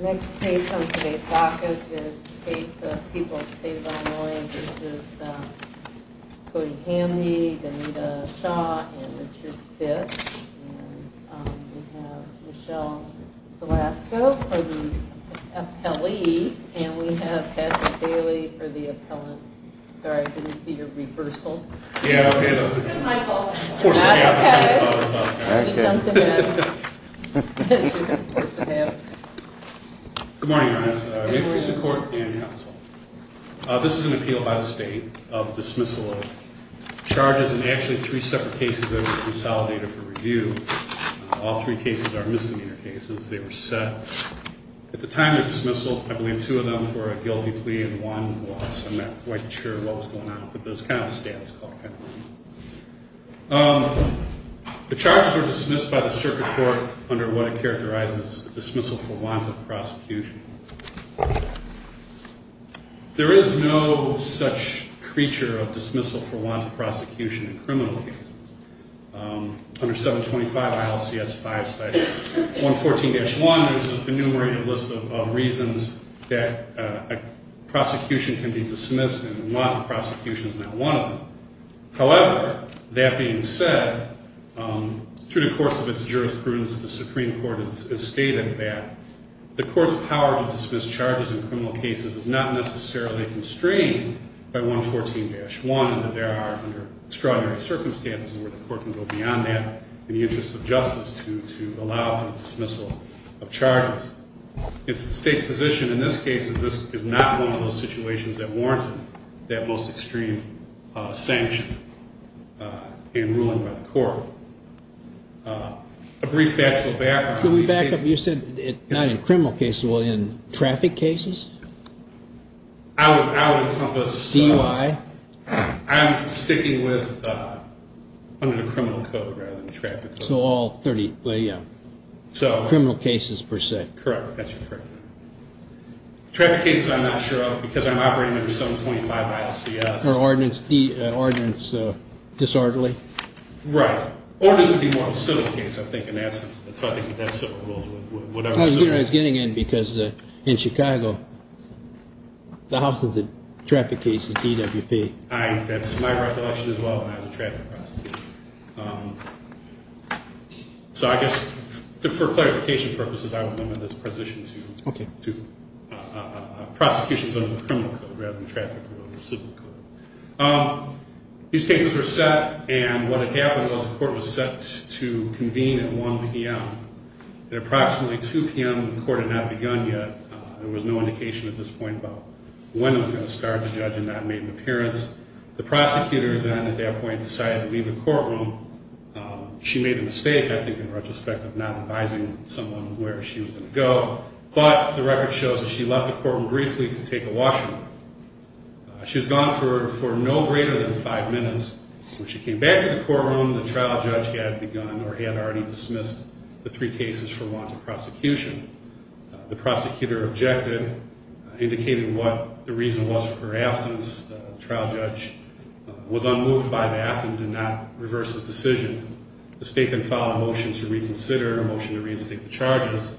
Next case on today's docket is a case of people of state of Illinois. This is Cody Hamby, Danita Shaw, and Richard Fitts, and we have Michelle Zalasko for the appellee, and we have Patrick Bailey for the appellant. Sorry, I didn't see your reversal. It's my fault. That's okay. You dunked him in. Good morning, Your Honors. We have recent court and counsel. This is an appeal by the state of dismissal of charges in actually three separate cases that were consolidated for review. All three cases are misdemeanor cases. They were set. At the time of dismissal, I believe two of them were a guilty plea and one was, I'm not quite sure what was going on, but it was kind of a status quo kind of thing. The charges were dismissed by the circuit court under what it characterizes as a dismissal for want of prosecution. There is no such creature of dismissal for want of prosecution in criminal cases. Under 725 ILCS 5-114-1, there's an enumerated list of reasons that a prosecution can be dismissed and want of prosecution is not one of them. However, that being said, through the course of its jurisprudence, the Supreme Court has stated that the court's power to dismiss charges in criminal cases is not necessarily constrained by 114-1 and that there are extraordinary circumstances where the court can go beyond that in the interest of justice to allow for the dismissal of charges. It's the state's position in this case that this is not one of those situations that warranted that most extreme sanction in ruling by the court. A brief factual background. Can we back up? You said not in criminal cases, but in traffic cases? I would encompass. DUI? I'm sticking with under the criminal code rather than traffic code. So all 30 criminal cases per se? Correct. That's correct. Traffic cases I'm not sure of because I'm operating under 725 ILCS. Ordinance disorderly? Right. Ordinance would be more of a civil case, I think, in that sense. I was getting in because in Chicago, the house of traffic cases, DWP. That's my recollection as well when I was a traffic prosecutor. So I guess for clarification purposes, I would limit this position to prosecutions under the criminal code rather than traffic code or civil code. These cases were set and what had happened was the court was set to convene at 1 p.m. At approximately 2 p.m., the court had not begun yet. There was no indication at this point about when it was going to start. The judge had not made an appearance. The prosecutor then at that point decided to leave the courtroom. She made a mistake, I think, in retrospect of not advising someone where she was going to go. But the record shows that she left the courtroom briefly to take a washroom. She was gone for no greater than five minutes. When she came back to the courtroom, the trial judge had begun or had already dismissed the three cases for want of prosecution. The prosecutor objected, indicating what the reason was for her absence. The trial judge was unmoved by that and did not reverse his decision. The state then filed a motion to reconsider, a motion to reinstate the charges,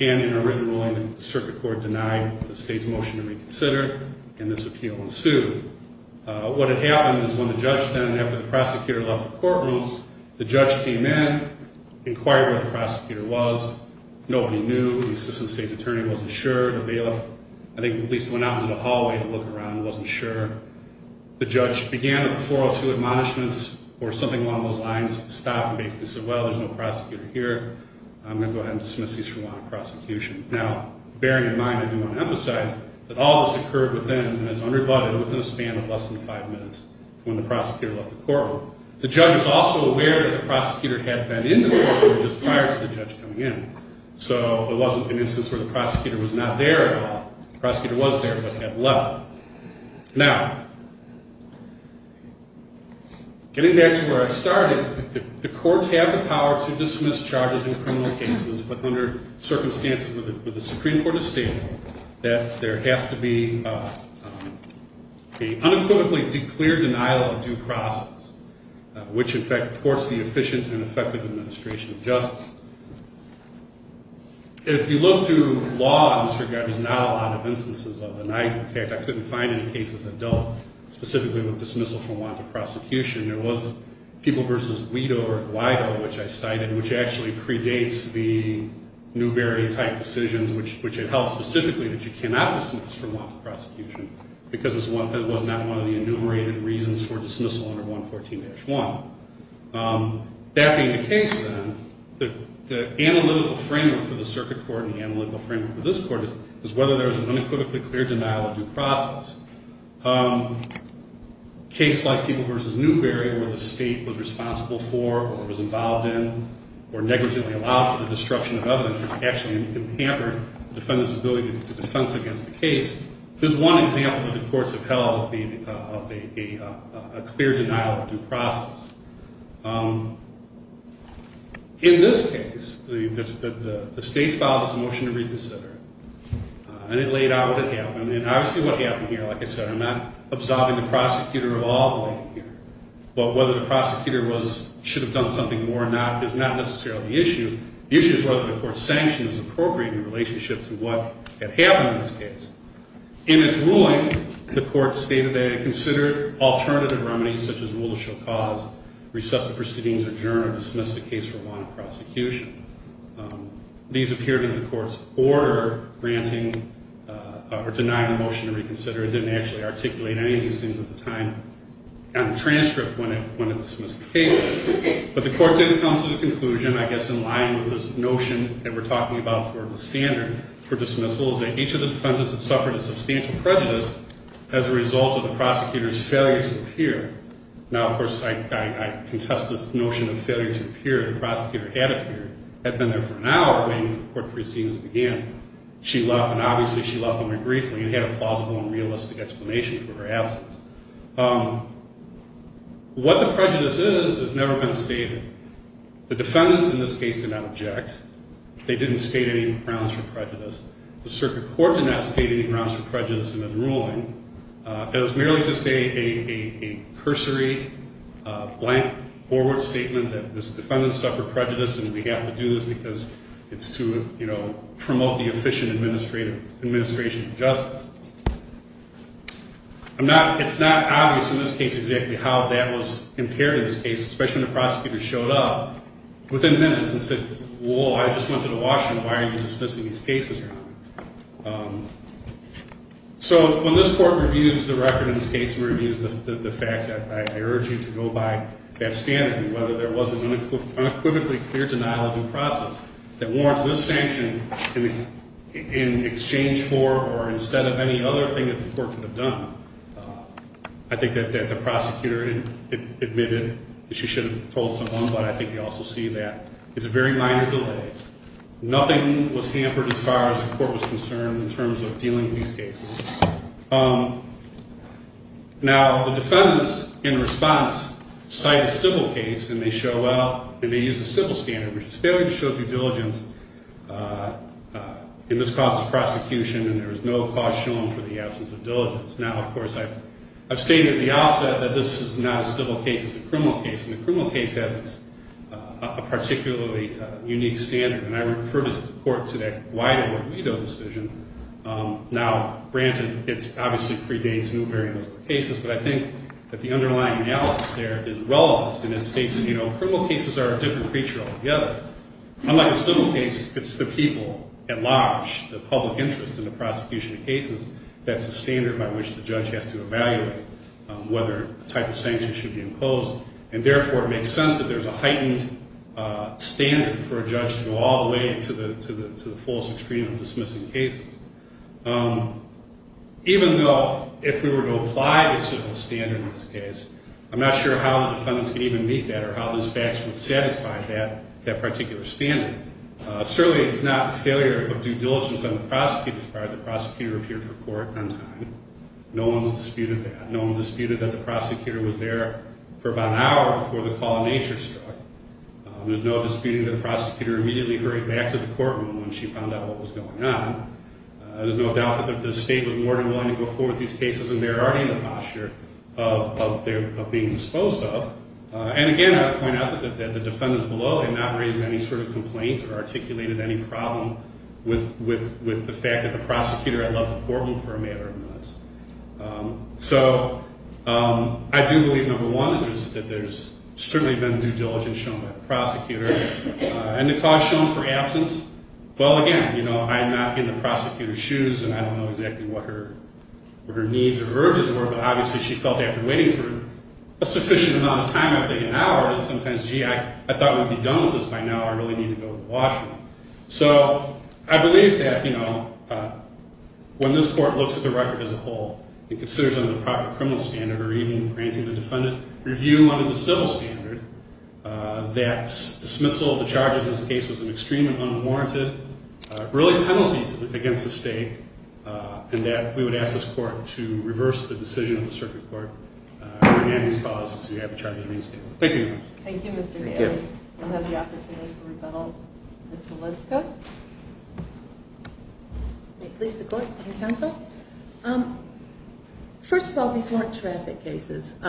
and in a written ruling, the circuit court denied the state's motion to reconsider, and this appeal ensued. What had happened is when the judge then, after the prosecutor left the courtroom, the judge came in, inquired where the prosecutor was. Nobody knew. The assistant state attorney wasn't sure. The bailiff, I think, at least went out into the hallway to look around and wasn't sure. The judge began a referral to admonishments or something along those lines, stopped and basically said, well, there's no prosecutor here. I'm going to go ahead and dismiss these for want of prosecution. Now, bearing in mind, I do want to emphasize that all this occurred within, as unrebutted, within a span of less than five minutes when the prosecutor left the courtroom. The judge was also aware that the prosecutor had been in the courtroom just prior to the judge coming in, so it wasn't an instance where the prosecutor was not there at all. The prosecutor was there but had left. Now, getting back to where I started, the courts have the power to dismiss charges in criminal cases, but under circumstances where the Supreme Court has stated that there has to be an unequivocally declared denial of due process, which, in fact, courts the efficient and effective administration of justice. If you look to law in this regard, there's not a lot of instances of denial. In fact, I couldn't find any cases that dealt specifically with dismissal for want of prosecution. There was People v. Guido, which I cited, which actually predates the Newberry-type decisions, which had held specifically that you cannot dismiss for want of prosecution because it was not one of the enumerated reasons for dismissal under 114-1. That being the case, then, the analytical framework for the circuit court and the analytical framework for this court is whether there is an unequivocally clear denial of due process. Cases like People v. Newberry, where the state was responsible for or was involved in or negligently allowed for the destruction of evidence, which actually hampered the defendant's ability to defense against the case, there's one example that the courts have held of a clear denial of due process. In this case, the state filed its motion to reconsider it, and it laid out what had happened. And obviously what happened here, like I said, I'm not absolving the prosecutor of all the blame here, but whether the prosecutor should have done something more or not is not necessarily the issue. The issue is whether the court's sanction is appropriate in relationship to what had happened in this case. In its ruling, the court stated that it considered alternative remedies, such as rule of show cause, recessive proceedings, adjourn, or dismiss the case for want of prosecution. These appeared in the court's order granting or denying the motion to reconsider. It didn't actually articulate any of these things at the time on the transcript when it dismissed the case. But the court did come to the conclusion, I guess in line with this notion that we're talking about for the standard for dismissals, that each of the defendants had suffered a substantial prejudice as a result of the prosecutor's failure to appear. Now, of course, I contest this notion of failure to appear. The prosecutor had appeared, had been there for an hour waiting for the court proceedings to begin. She left, and obviously she left only briefly and had a plausible and realistic explanation for her absence. What the prejudice is has never been stated. The defendants in this case did not object. They didn't state any grounds for prejudice. The circuit court did not state any grounds for prejudice in its ruling. It was merely just a cursory, blank, forward statement that this defendant suffered prejudice and began to do this because it's to, you know, promote the efficient administration of justice. I'm not, it's not obvious in this case exactly how that was impaired in this case, especially when the prosecutor showed up within minutes and said, whoa, I just went to the washroom, why are you dismissing these cases? So when this court reviews the record in this case and reviews the facts, I urge you to go by that standard and whether there was an unequivocally clear denial of due process that warrants this sanction in exchange for or instead of any other thing that the court could have done. I think that the prosecutor admitted that she should have told someone, but I think you also see that. It's a very minor delay. Nothing was hampered as far as the court was concerned in terms of dealing with these cases. Now, the defendants in response cite a civil case, and they show up, and they use the civil standard, which is failure to show due diligence, and this causes prosecution and there is no cause shown for the absence of diligence. Now, of course, I've stated at the outset that this is not a civil case, it's a criminal case, and the criminal case has a particularly unique standard, and I refer this court to that Guaido or Guido decision. Now, granted, it obviously predates new variables for cases, but I think that the underlying analysis there is relevant and it states, you know, criminal cases are a different creature altogether. Unlike a civil case, it's the people at large, the public interest in the prosecution of cases, that's the standard by which the judge has to evaluate whether a type of sanction should be imposed, and therefore it makes sense that there's a heightened standard for a judge to go all the way to the fullest extreme of dismissing cases. Even though if we were to apply the civil standard in this case, I'm not sure how the defendants can even meet that or how those facts would satisfy that particular standard. Certainly it's not failure of due diligence on the prosecutor's part. The prosecutor appeared for court on time. No one's disputed that. No one's disputed that the prosecutor was there for about an hour before the call of nature struck. There's no disputing that the prosecutor immediately hurried back to the courtroom when she found out what was going on. There's no doubt that the state was more than willing to go forward with these cases and they were already in the posture of being disposed of. And, again, I would point out that the defendants below had not raised any sort of complaint or articulated any problem with the fact that the prosecutor had left the courtroom for a matter of minutes. So I do believe, number one, that there's certainly been due diligence shown by the prosecutor. And the cause shown for absence, well, again, I'm not in the prosecutor's shoes and I don't know exactly what her needs or urges were, but obviously she felt after waiting for a sufficient amount of time, I think an hour, that sometimes, gee, I thought we'd be done with this by now. I really need to go to the washroom. So I believe that when this court looks at the record as a whole and considers under the proper criminal standard or even granting the defendant review under the civil standard that dismissal of the charges in this case was an extreme and unwarranted, really a penalty against the state, and that we would ask this court to reverse the decision of the circuit court to grant this cause to have the charges reinstated. Thank you very much. Thank you, Mr. Gale. Thank you. We'll have the opportunity to rebuttal. Ms. Seleska? May it please the court and counsel? First of all, these weren't traffic cases.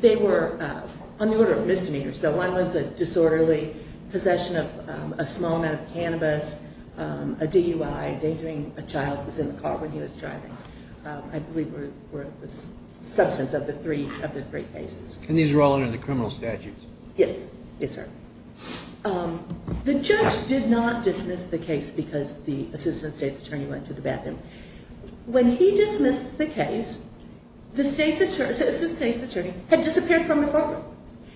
They were on the order of misdemeanors. So one was a disorderly possession of a small amount of cannabis, a DUI, endangering a child who was in the car when he was driving, I believe were the substance of the three cases. And these were all under the criminal statute? Yes, yes, sir. The judge did not dismiss the case because the assistant state's attorney went to the bathroom. When he dismissed the case, the assistant state's attorney had disappeared from the courtroom.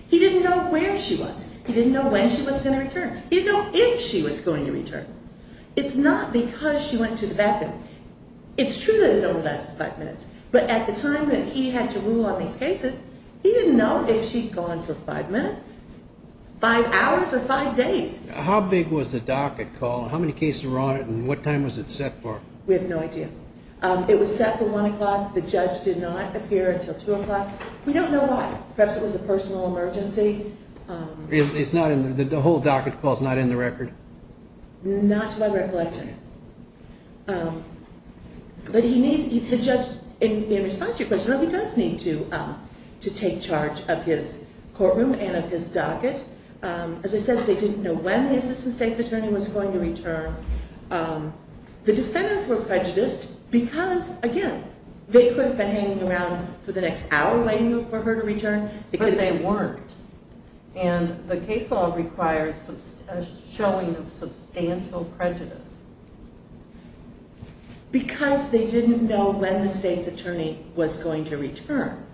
He didn't know where she was. He didn't know when she was going to return. He didn't know if she was going to return. It's not because she went to the bathroom. It's true that it only lasted five minutes, but at the time that he had to rule on these cases, he didn't know if she'd gone for five minutes, five hours, or five days. How big was the docket call? How many cases were on it, and what time was it set for? We have no idea. It was set for 1 o'clock. The judge did not appear until 2 o'clock. We don't know why. Perhaps it was a personal emergency. The whole docket call is not in the record? Not to my recollection. But the judge, in response to your question, he does need to take charge of his courtroom and of his docket. As I said, they didn't know when the assistant state's attorney was going to return. The defendants were prejudiced because, again, they could have been hanging around for the next hour waiting for her to return. But they weren't. And the case law requires a showing of substantial prejudice. Because they didn't know when the state's attorney was going to return.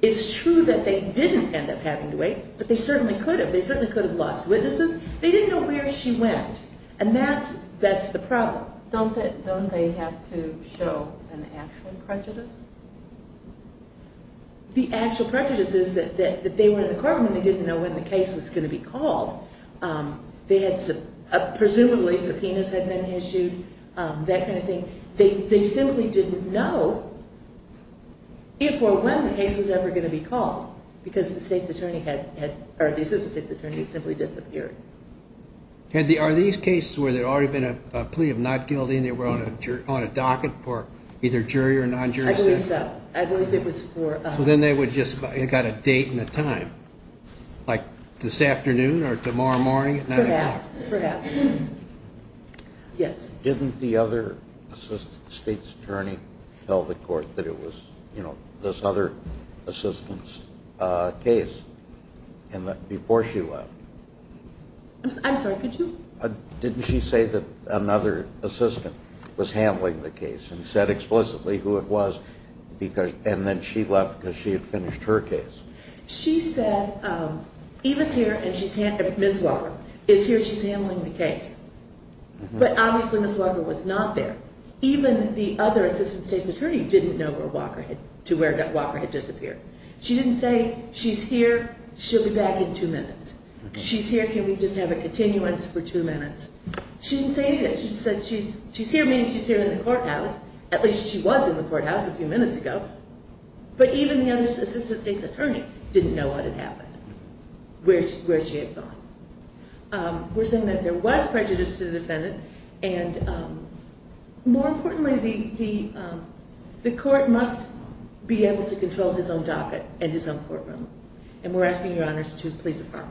It's true that they didn't end up having to wait, but they certainly could have. They certainly could have lost witnesses. They didn't know where she went, and that's the problem. Don't they have to show an actual prejudice? The actual prejudice is that they were in the courtroom and they didn't know when the case was going to be called. Presumably subpoenas had been issued, that kind of thing. They simply didn't know if or when the case was ever going to be called because the assistant state's attorney had simply disappeared. Are these cases where there had already been a plea of not guilty and they were on a docket for either jury or non-jury session? I believe so. So then they would just have got a date and a time, like this afternoon or tomorrow morning at 9 o'clock? Perhaps. Yes. Didn't the other assistant state's attorney tell the court that it was this other assistant's case before she left? I'm sorry, could you? Didn't she say that another assistant was handling the case and said explicitly who it was and then she left because she had finished her case? She said, Miss Walker is here, she's handling the case. But obviously Miss Walker was not there. Even the other assistant state's attorney didn't know where Walker had disappeared. She didn't say she's here, she'll be back in two minutes. She's here, can we just have a continuance for two minutes? She didn't say anything. She said she's here, meaning she's here in the courthouse. At least she was in the courthouse a few minutes ago. But even the other assistant state's attorney didn't know what had happened, where she had gone. We're saying that there was prejudice to the defendant and more importantly, the court must be able to control his own docket and his own courtroom. And we're asking your honors to please affirm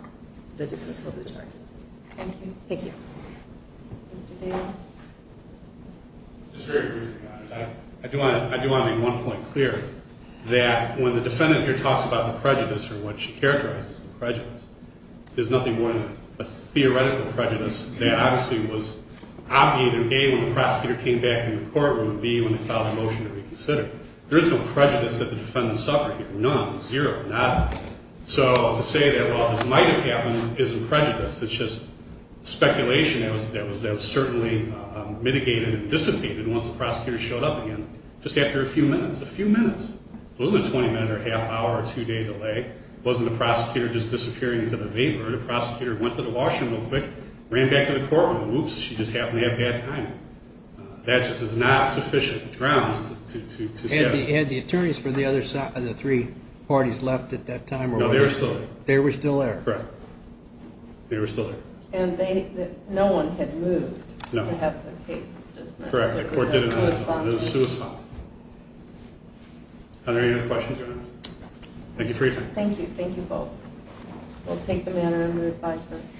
the dismissal of the charges. Thank you. Thank you. Mr. Dale? Just very briefly, your honors. I do want to make one point clear that when the defendant here talks about the prejudice or what she characterizes as the prejudice, there's nothing more than a theoretical prejudice that obviously was obviated, A, when the prosecutor came back in the courtroom, and B, when they filed a motion to reconsider. There is no prejudice that the defendant suffered here. None, zero, none. So to say that, well, this might have happened, isn't prejudice. It's just speculation that was certainly mitigated and dissipated once the prosecutor showed up again, just after a few minutes. A few minutes. It wasn't a 20-minute or a half-hour or two-day delay. It wasn't the prosecutor just disappearing into the vapor. The prosecutor went to the washroom real quick, ran back to the courtroom, and whoops, she just happened to have bad timing. That just is not sufficient grounds to say. Had the attorneys for the three parties left at that time? No, they were still there. They were still there. Correct. They were still there. And no one had moved to have their cases dismissed. Correct. The court did it on its own. It was suspended. Are there any other questions, your honors? Thank you for your time. Thank you. Thank you both. We'll take the matter under advisement.